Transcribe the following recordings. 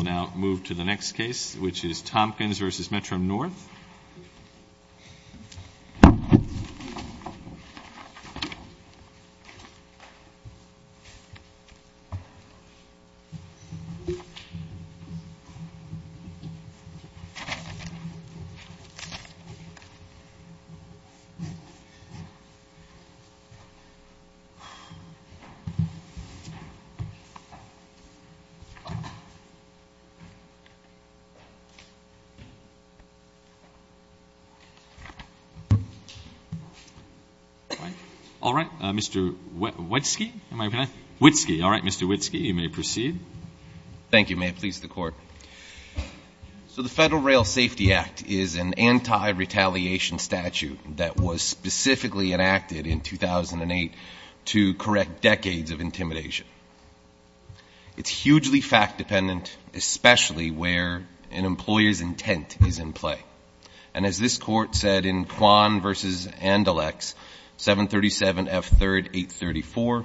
We will now move to the next case, which is Tompkins v. Metro-North. All right, Mr. Witski. You may proceed. Thank you. May it please the Court. So the Federal Rail Safety Act is an anti-retaliation statute that was specifically enacted in 2008 to correct decades of intimidation. It's hugely fact-dependent, especially where an employer's intent is in play. And as this Court said in Quan v. Andalex 737 F. 3rd 834,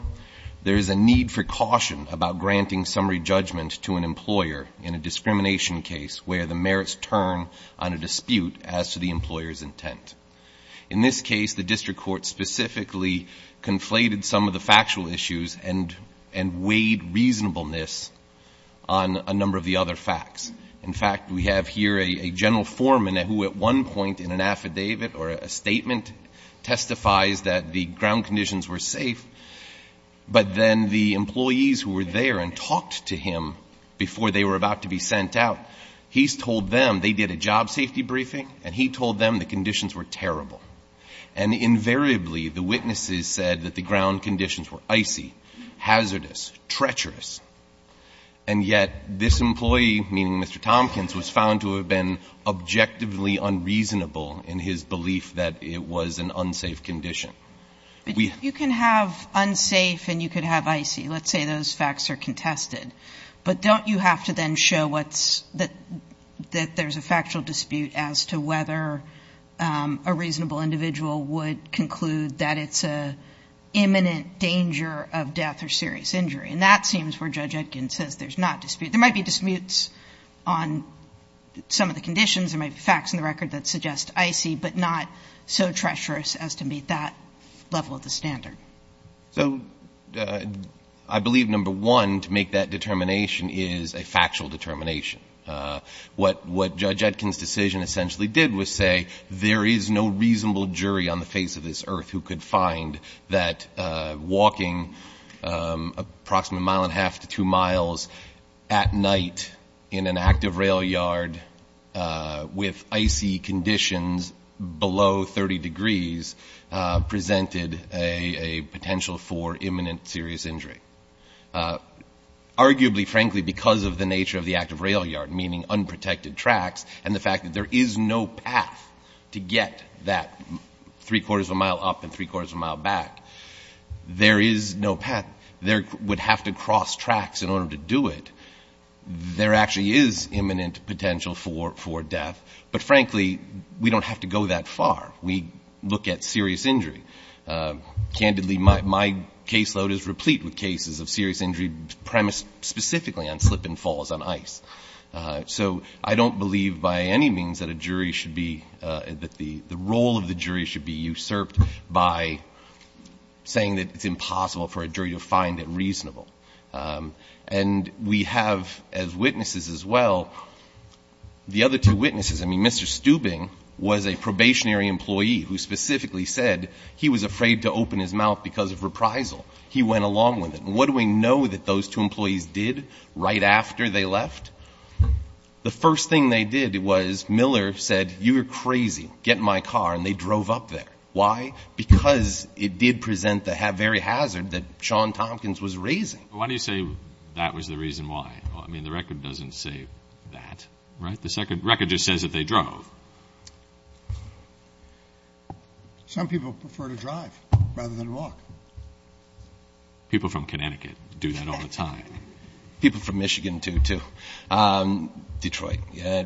there is a need for caution about granting summary judgment to an employer in a discrimination case where the merits turn on a dispute as to the employer's intent. In this case, the District Court specifically conflated some of the factual issues and weighed reasonableness on a number of the other facts. In fact, we have here a general foreman who at one point in an affidavit or a statement testifies that the ground conditions were safe, but then the employees who were there and talked to him before they were about to be sent out, he's told them they did a job safety briefing and he told them the conditions were terrible. And invariably, the witnesses said that the ground conditions were icy, hazardous, treacherous, and yet this employee, meaning Mr. Tompkins, was found to have been objectively unreasonable in his belief that it was an unsafe condition. Let's say those facts are contested. But don't you have to then show that there's a factual dispute as to whether a reasonable individual would conclude that it's an imminent danger of death or serious injury? And that seems where Judge Etkin says there's not dispute. There might be disputes on some of the conditions. There might be facts in the record that suggest icy, but not so treacherous as to meet that level of the standard. So I believe number one to make that determination is a factual determination. What Judge Etkin's decision essentially did was say there is no reasonable jury on the face of this earth who could find that walking approximately a mile and a half to two miles at night in an active rail yard with icy conditions below 30 degrees presented a potential for imminent serious injury. Arguably, frankly, because of the nature of the active rail yard, meaning unprotected tracks, and the fact that there is no path to get that three-quarters of a mile up and three-quarters of a mile back, there is no path. There would have to cross tracks in order to do it. There actually is imminent potential for death, but, frankly, we don't have to go that far. We look at serious injury. Candidly, my caseload is replete with cases of serious injury premised specifically on slip and falls on ice. So I don't believe by any means that the role of the jury should be usurped by saying that it's impossible for a jury to find it reasonable. And we have, as witnesses as well, the other two witnesses. I mean, Mr. Steubing was a probationary employee who specifically said he was afraid to open his mouth because of reprisal. He went along with it. And what do we know that those two employees did right after they left? The first thing they did was Miller said, you are crazy, get in my car, and they drove up there. Why? Because it did present the very hazard that Sean Tompkins was raising. Why do you say that was the reason why? I mean, the record doesn't say that, right? The second record just says that they drove. Some people prefer to drive rather than walk. People from Connecticut do that all the time. People from Michigan do, too. Detroit.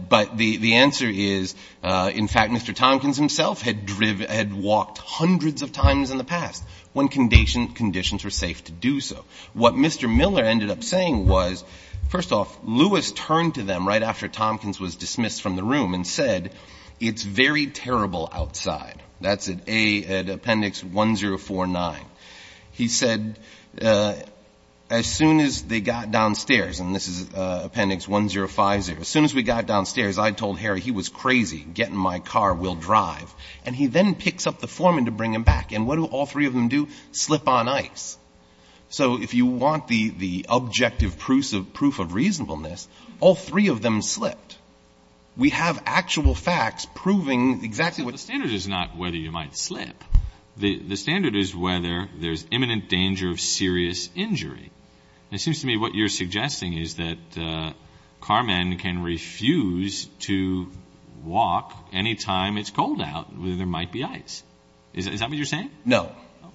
But the answer is, in fact, Mr. Tompkins himself had walked hundreds of times in the past when conditions were safe to do so. What Mr. Miller ended up saying was, first off, Lewis turned to them right after Tompkins was dismissed from the room and said, it's very terrible outside. That's at appendix 1049. He said, as soon as they got downstairs, and this is appendix 1050, as soon as we got downstairs, I told Harry he was crazy, get in my car, we'll drive. And he then picks up the foreman to bring him back. And what do all three of them do? Slip on ice. So if you want the objective proof of reasonableness, all three of them slipped. We have actual facts proving exactly what happened. The standard is not whether you might slip. The standard is whether there's imminent danger of serious injury. It seems to me what you're suggesting is that carmen can refuse to walk any time it's cold out, whether there might be ice. Is that what you're saying? No.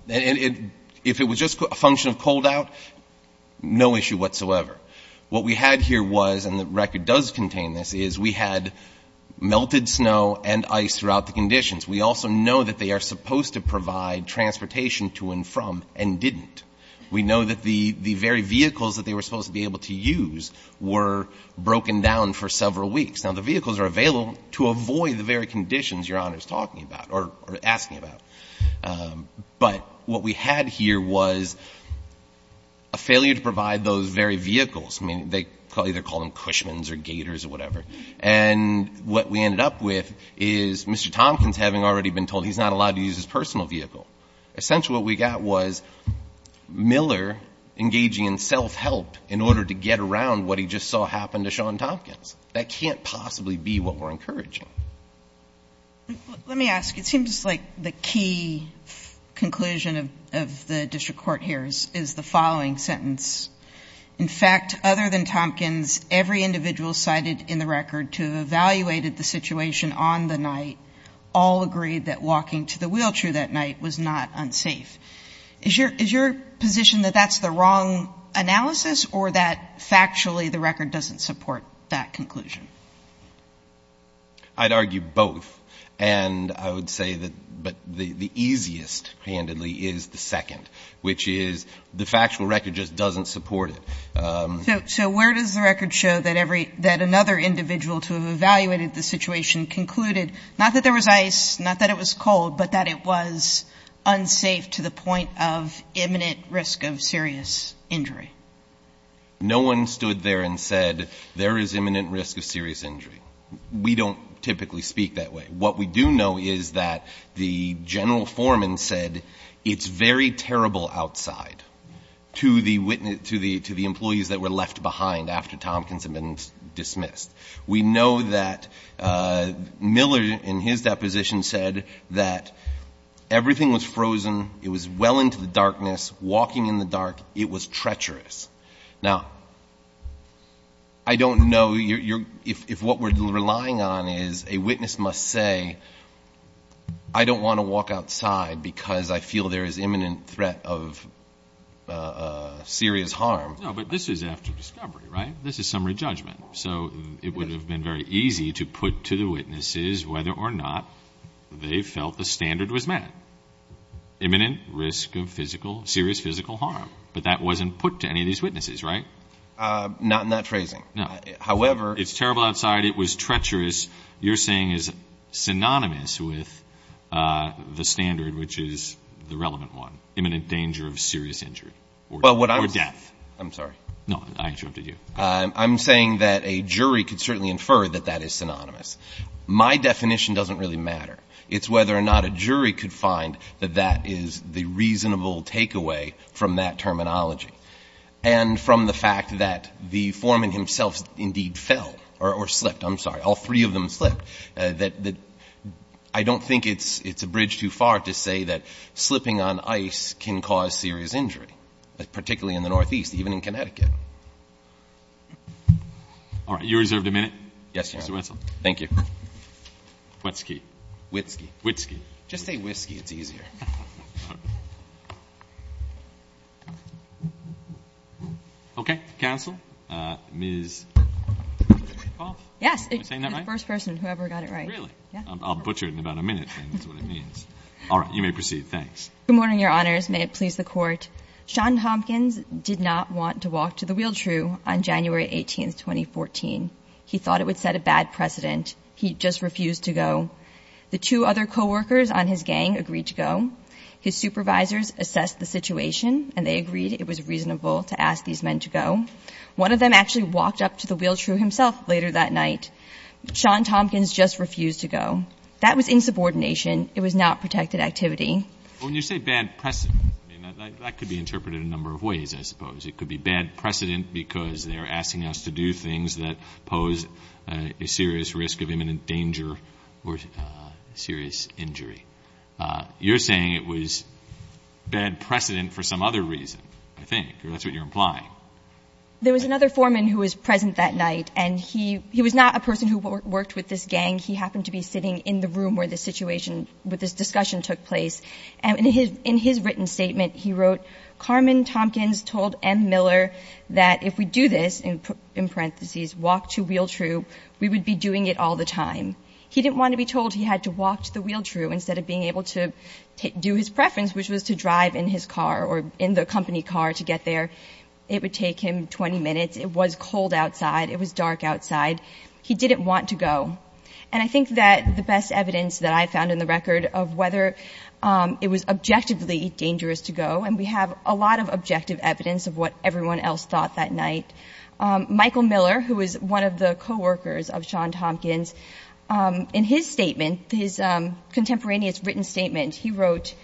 If it was just a function of cold out, no issue whatsoever. What we had here was, and the record does contain this, is we had melted snow and ice throughout the conditions. We also know that they are supposed to provide transportation to and from and didn't. We know that the very vehicles that they were supposed to be able to use were broken down for several weeks. Now, the vehicles are available to avoid the very conditions Your Honor is talking about or asking about. But what we had here was a failure to provide those very vehicles. I mean, they either call them Cushmans or Gators or whatever. And what we ended up with is Mr. Tompkins having already been told he's not allowed to use his personal vehicle. Essentially what we got was Miller engaging in self-help in order to get around what he just saw happen to Sean Tompkins. That can't possibly be what we're encouraging. Let me ask. It seems like the key conclusion of the district court here is the following sentence. In fact, other than Tompkins, every individual cited in the record to have evaluated the situation on the night all agreed that walking to the wheelchair that night was not unsafe. Is your position that that's the wrong analysis or that factually the record doesn't support that conclusion? I'd argue both. And I would say that the easiest, candidly, is the second, which is the factual record just doesn't support it. So where does the record show that another individual to have evaluated the situation concluded, not that there was ice, not that it was cold, but that it was unsafe to the point of imminent risk of serious injury? No one stood there and said there is imminent risk of serious injury. We don't typically speak that way. What we do know is that the general foreman said it's very terrible outside to the employees that were left behind after Tompkins had been dismissed. We know that Miller in his deposition said that everything was frozen. It was well into the darkness. Walking in the dark, it was treacherous. Now, I don't know if what we're relying on is a witness must say, I don't want to walk outside because I feel there is imminent threat of serious harm. No, but this is after discovery, right? This is summary judgment. So it would have been very easy to put to the witnesses whether or not they felt the standard was met, imminent risk of serious physical harm. But that wasn't put to any of these witnesses, right? Not in that phrasing. No. However. It's terrible outside. It was treacherous. You're saying is synonymous with the standard, which is the relevant one, imminent danger of serious injury or death. I'm sorry. No, I interrupted you. I'm saying that a jury could certainly infer that that is synonymous. My definition doesn't really matter. It's whether or not a jury could find that that is the reasonable takeaway from that terminology. And from the fact that the foreman himself indeed fell or slept, I'm sorry, all three of them slept, that I don't think it's a bridge too far to say that slipping on ice can cause serious injury, particularly in the northeast, even in Connecticut. All right. You're reserved a minute. Yes, Your Honor. Mr. Wetzel. Thank you. Wetzel. Wetzel. Just say Wetzel. It's easier. Okay. Counsel. Ms. Roth. Yes. The first person who ever got it right. Really? I'll butcher it in about a minute. That's what it means. All right. You may proceed. Thanks. Good morning, Your Honors. May it please the Court. Sean Hopkins did not want to walk to the wheelchair on January 18, 2014. He thought it would set a bad precedent. He just refused to go. The two other coworkers on his gang agreed to go. His supervisors assessed the situation, and they agreed it was reasonable to ask these men to go. One of them actually walked up to the wheelchair himself later that night. Sean Hopkins just refused to go. That was insubordination. It was not protected activity. Well, when you say bad precedent, that could be interpreted a number of ways, I suppose. It could be bad precedent because they're asking us to do things that pose a serious risk of imminent danger or serious injury. You're saying it was bad precedent for some other reason, I think, or that's what you're implying. There was another foreman who was present that night, and he was not a person who worked with this gang. He happened to be sitting in the room where this situation, where this discussion took place. In his written statement, he wrote, Carmen Tompkins told M. Miller that if we do this, in parentheses, walk to wheelchair, we would be doing it all the time. He didn't want to be told he had to walk to the wheelchair instead of being able to do his preference, which was to drive in his car or in the company car to get there. It would take him 20 minutes. It was cold outside. It was dark outside. He didn't want to go. And I think that the best evidence that I found in the record of whether it was objectively dangerous to go, and we have a lot of objective evidence of what everyone else thought that night, Michael Miller, who was one of the coworkers of Sean Tompkins, in his statement, his contemporaneous written statement, he wrote,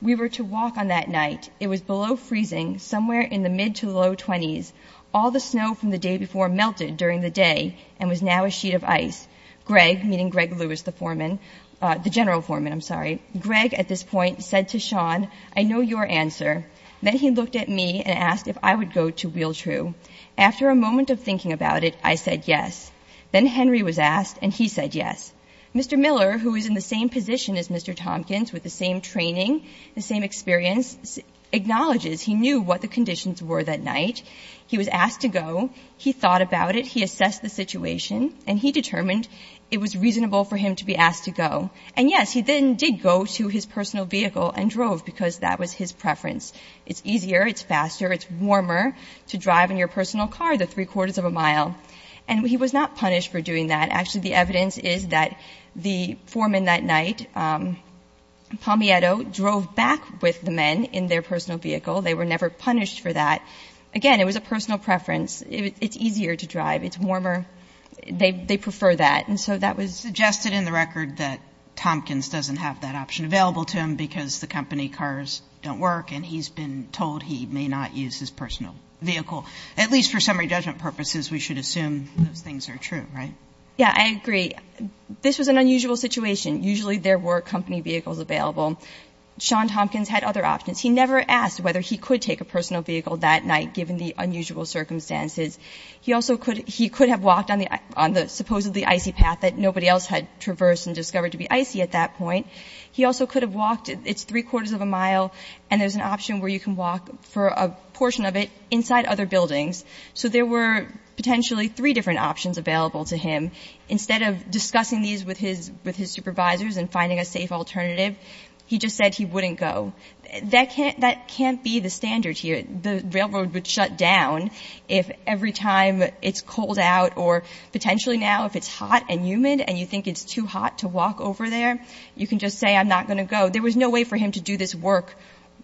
We were to walk on that night. It was below freezing, somewhere in the mid to low 20s. All the snow from the day before melted during the day and was now a sheet of ice. Greg, meaning Greg Lewis, the foreman, the general foreman, I'm sorry. Greg, at this point, said to Sean, I know your answer. Then he looked at me and asked if I would go to wheelchair. After a moment of thinking about it, I said yes. Then Henry was asked, and he said yes. Mr. Miller, who is in the same position as Mr. Tompkins, with the same training, the same experience, acknowledges he knew what the conditions were that night. He was asked to go. He thought about it. He assessed the situation, and he determined it was reasonable for him to be asked to go. And yes, he then did go to his personal vehicle and drove because that was his preference. It's easier, it's faster, it's warmer to drive in your personal car the three-quarters of a mile. And he was not punished for doing that. Actually, the evidence is that the foreman that night, Palmietto, drove back with the men in their personal vehicle. They were never punished for that. Again, it was a personal preference. It's easier to drive. It's warmer. They prefer that. And so that was suggested in the record that Tompkins doesn't have that option available to him because the company cars don't work, and he's been told he may not use his personal vehicle. At least for summary judgment purposes, we should assume those things are true, right? Yeah, I agree. This was an unusual situation. Usually there were company vehicles available. Sean Tompkins had other options. He never asked whether he could take a personal vehicle that night given the unusual circumstances. He also could have walked on the supposedly icy path that nobody else had traversed and discovered to be icy at that point. He also could have walked. It's three-quarters of a mile, and there's an option where you can walk for a portion of it inside other buildings. So there were potentially three different options available to him. Instead of discussing these with his supervisors and finding a safe alternative, he just said he wouldn't go. That can't be the standard here. The railroad would shut down if every time it's cold out or potentially now if it's hot and humid and you think it's too hot to walk over there, you can just say, I'm not going to go. There was no way for him to do this work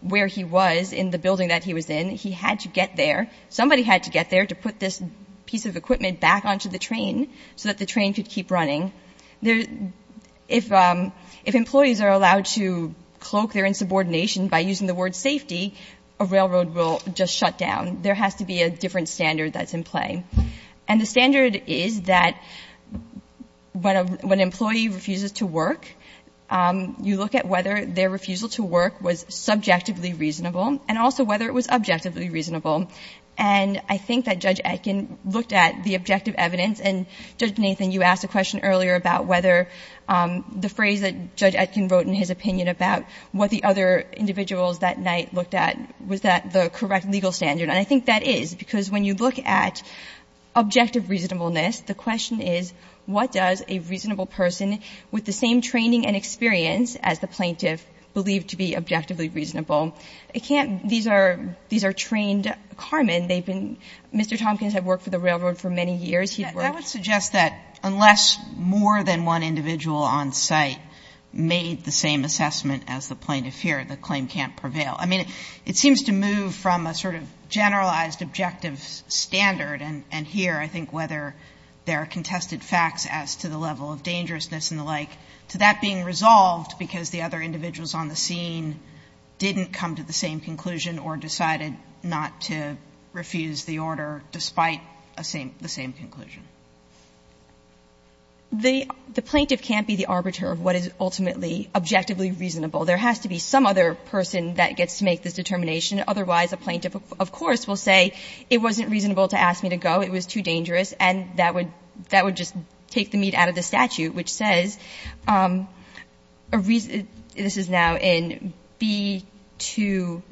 where he was in the building that he was in. He had to get there. Somebody had to get there to put this piece of equipment back onto the train so that the train could keep running. If employees are allowed to cloak their insubordination by using the word safety, a railroad will just shut down. There has to be a different standard that's in play. And the standard is that when an employee refuses to work, you look at whether their refusal to work was subjectively reasonable and also whether it was objectively reasonable. And I think that Judge Etkin looked at the objective evidence. And, Judge Nathan, you asked a question earlier about whether the phrase that Judge Etkin wrote in his opinion about what the other individuals that night looked at, was that the correct legal standard? And I think that is, because when you look at objective reasonableness, the question is what does a reasonable person with the same training and experience as the plaintiff believe to be objectively reasonable? It can't be. These are trained carmen. They've been Mr. Tompkins had worked for the railroad for many years. He'd worked. Kagan. I would suggest that unless more than one individual on site made the same assessment as the plaintiff here, the claim can't prevail. I mean, it seems to move from a sort of generalized objective standard, and here I think whether there are contested facts as to the level of dangerousness and the like, to that being resolved because the other individuals on the scene didn't come to the same conclusion or decided not to refuse the order despite a same the same conclusion. The plaintiff can't be the arbiter of what is ultimately objectively reasonable. There has to be some other person that gets to make this determination. Otherwise, a plaintiff, of course, will say it wasn't reasonable to ask me to go. It was too dangerous. And that would just take the meat out of the statute, which says, this is now in B to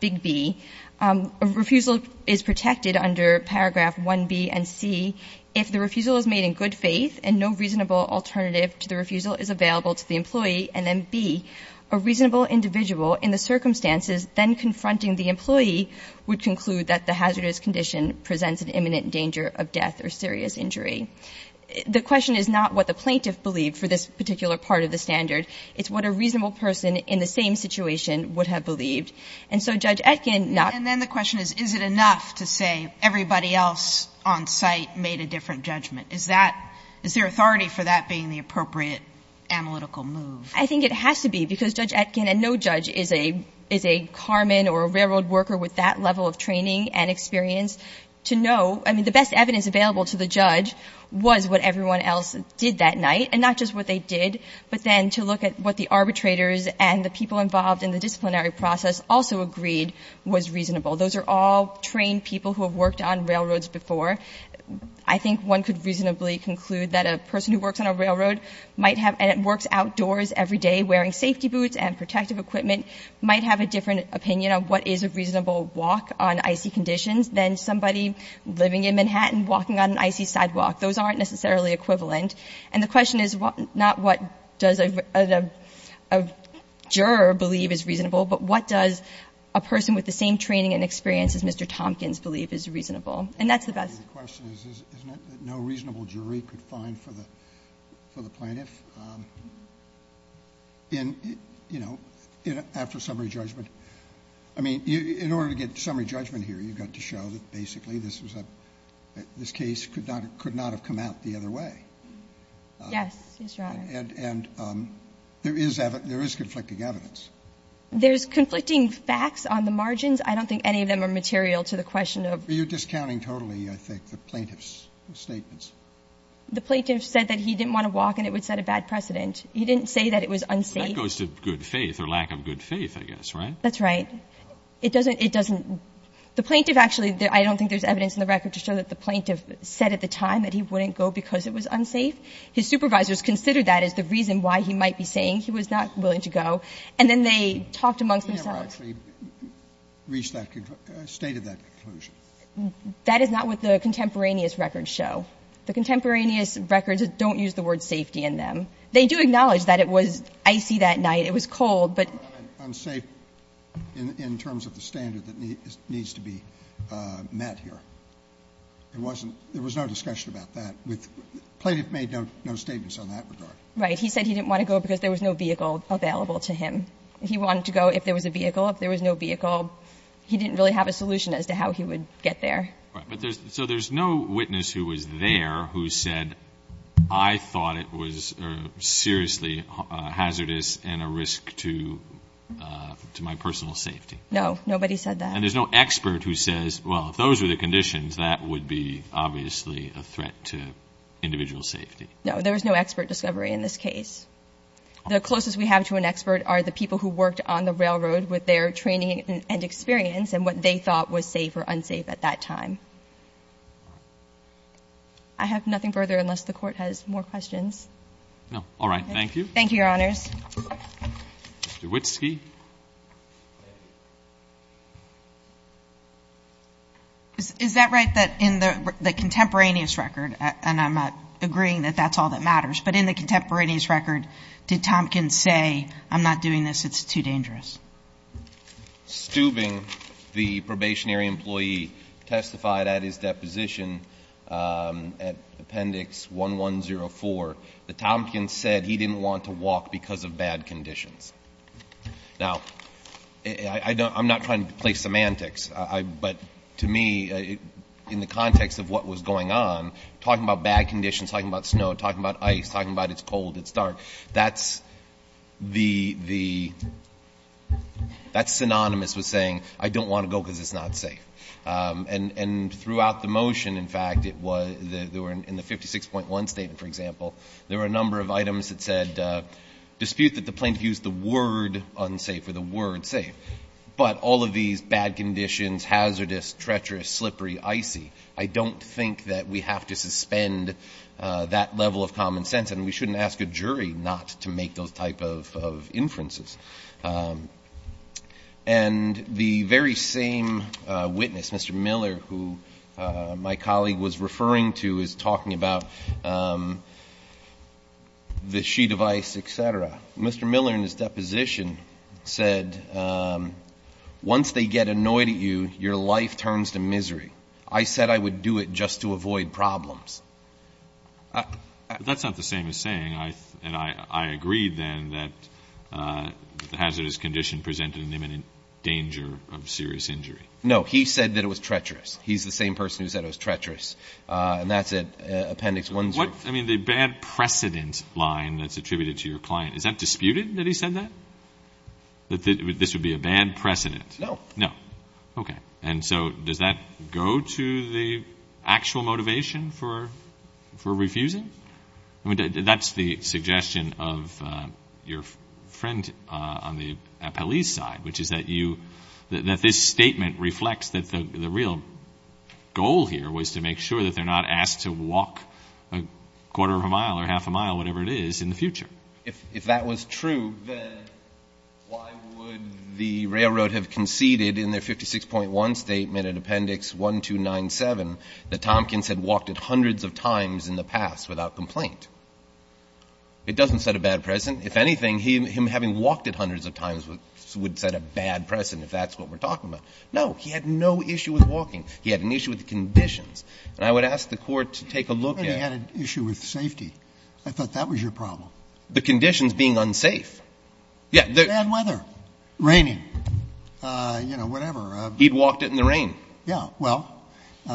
Big B, a refusal is protected under paragraph 1B and C if the refusal is made in good faith and no reasonable alternative to the refusal is available to the employee and then B, a reasonable individual in the circumstances then confronting the employee would conclude that the hazardous condition presents an imminent danger of death or serious injury. The question is not what the plaintiff believed for this particular part of the standard. It's what a reasonable person in the same situation would have believed. And so Judge Etkin not ---- Sotomayor, and then the question is, is it enough to say everybody else on site made a different judgment? Is that – is there authority for that being the appropriate analytical move? I think it has to be, because Judge Etkin and no judge is a – is a carman or a railroad worker with that level of training and experience to know – I mean, the best evidence available to the judge was what everyone else did that night, and not just what they did, but then to look at what the arbitrators and the people involved in the disciplinary process also agreed was reasonable. Those are all trained people who have worked on railroads before. I think one could reasonably conclude that a person who works on a railroad might have – and works outdoors every day wearing safety boots and protective equipment might have a different opinion on what is a reasonable walk on icy conditions than somebody living in Manhattan walking on an icy sidewalk. Those aren't necessarily equivalent. And the question is not what does a juror believe is reasonable, but what does a person with the same training and experience as Mr. Tompkins believe is reasonable. And that's the best. The reason I put out a question is no reasonable jury could find for the plaintiff. And, you know, after summary judgment – I mean, in order to get summary judgment here, you've got to show that basically this was a – this case could not have come out the other way. Yes, Yes, Your Honor. And there is – there is conflicting evidence. There's conflicting facts on the margins. I don't think any of them are material to the question of— But you're discounting totally, I think, the plaintiff's statements. The plaintiff said that he didn't want to walk and it would set a bad precedent. He didn't say that it was unsafe. That goes to good faith or lack of good faith, I guess, right? That's right. It doesn't – it doesn't – the plaintiff actually – I don't think there's evidence in the record to show that the plaintiff said at the time that he wouldn't go because it was unsafe. His supervisors considered that as the reason why he might be saying he was not willing And then they talked amongst themselves. reached that – stated that conclusion. That is not what the contemporaneous records show. The contemporaneous records don't use the word safety in them. They do acknowledge that it was icy that night. It was cold, but— Unsafe in terms of the standard that needs to be met here. It wasn't – there was no discussion about that with – the plaintiff made no statements on that regard. Right. He said he didn't want to go because there was no vehicle available to him. He wanted to go if there was a vehicle. If there was no vehicle, he didn't really have a solution as to how he would get there. Right. But there's – so there's no witness who was there who said, I thought it was seriously hazardous and a risk to my personal safety. No. Nobody said that. And there's no expert who says, well, if those were the conditions, that would be obviously a threat to individual safety. No. There was no expert discovery in this case. The closest we have to an expert are the people who worked on the railroad with their training and experience and what they thought was safe or unsafe at that time. I have nothing further unless the Court has more questions. No. All right. Thank you. Thank you, Your Honors. Mr. Witski. Is that right that in the contemporaneous record, and I'm agreeing that that's all that matters, but in the contemporaneous record, did Tompkins say, I'm not doing this, it's too dangerous? Stubing, the probationary employee, testified at his deposition at Appendix 1104 that Tompkins said he didn't want to walk because of bad conditions. Now, I'm not trying to play semantics, but to me, in the context of what was going on, talking about bad conditions, talking about snow, talking about ice, talking about it's cold, it's dark, that's synonymous with saying I don't want to go because it's not safe. And throughout the motion, in fact, in the 56.1 statement, for example, there were a number of items that said, dispute that the plaintiff used the word unsafe or the word safe, but all of these bad conditions, hazardous, treacherous, slippery, icy, I don't think that we have to suspend that level of common sense, and we shouldn't ask a jury not to make those type of inferences. And the very same witness, Mr. Miller, who my colleague was referring to, is talking about the sheet of ice, et cetera. Mr. Miller, in his deposition, said, once they get annoyed at you, your life turns to misery. I said I would do it just to avoid problems. But that's not the same as saying, and I agree then, that the hazardous condition presented an imminent danger of serious injury. No. He said that it was treacherous. He's the same person who said it was treacherous. And that's at Appendix 1. I mean, the bad precedent line that's attributed to your client, is that disputed that he said that, that this would be a bad precedent? No. No. Okay. And so does that go to the actual motivation for refusing? I mean, that's the suggestion of your friend on the appellee's side, which is that this statement reflects that the real goal here was to make sure that they're not asked to walk a quarter of a mile or half a mile, whatever it is, in the future. If that was true, then why would the railroad have conceded in their 56.1 statement at Appendix 1297 that Tompkins had walked it hundreds of times in the past without complaint? It doesn't set a bad precedent. If anything, him having walked it hundreds of times would set a bad precedent if that's what we're talking about. No. He had no issue with walking. He had an issue with the conditions. And I would ask the Court to take a look at it. And he had an issue with safety. I thought that was your problem. The conditions being unsafe. Bad weather. Raining. You know, whatever. He'd walked it in the rain. Yeah. Well,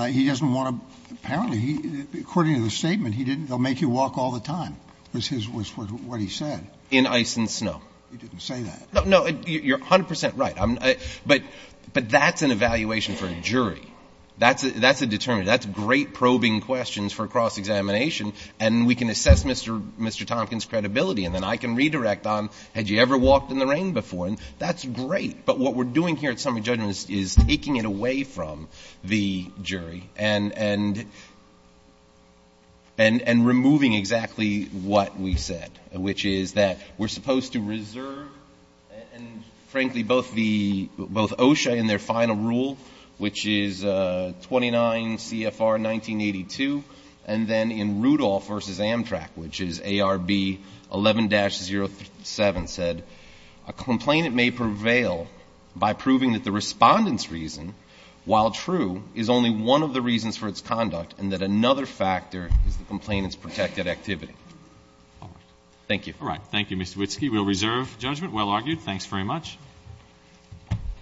he doesn't want to, apparently, according to the statement, he didn't, they'll make you walk all the time was what he said. In ice and snow. He didn't say that. No. You're 100 percent right. But that's an evaluation for a jury. That's a determinant. That's great probing questions for cross-examination. And we can assess Mr. Tompkins' credibility. And then I can redirect on, had you ever walked in the rain before? And that's great. But what we're doing here at summary judgment is taking it away from the jury. And removing exactly what we said, which is that we're supposed to reserve, and frankly, both the, both OSHA and their final rule, which is 29 CFR 1982. And then in Rudolph v. Amtrak, which is ARB 11-07 said, a complainant may prevail by proving that the respondent's reason, while true, is only one of the reasons for its conduct, and that another factor is the complainant's protected activity. All right. Thank you. All right. Thank you, Mr. Witski. We'll reserve judgment. Well argued. Thanks very much.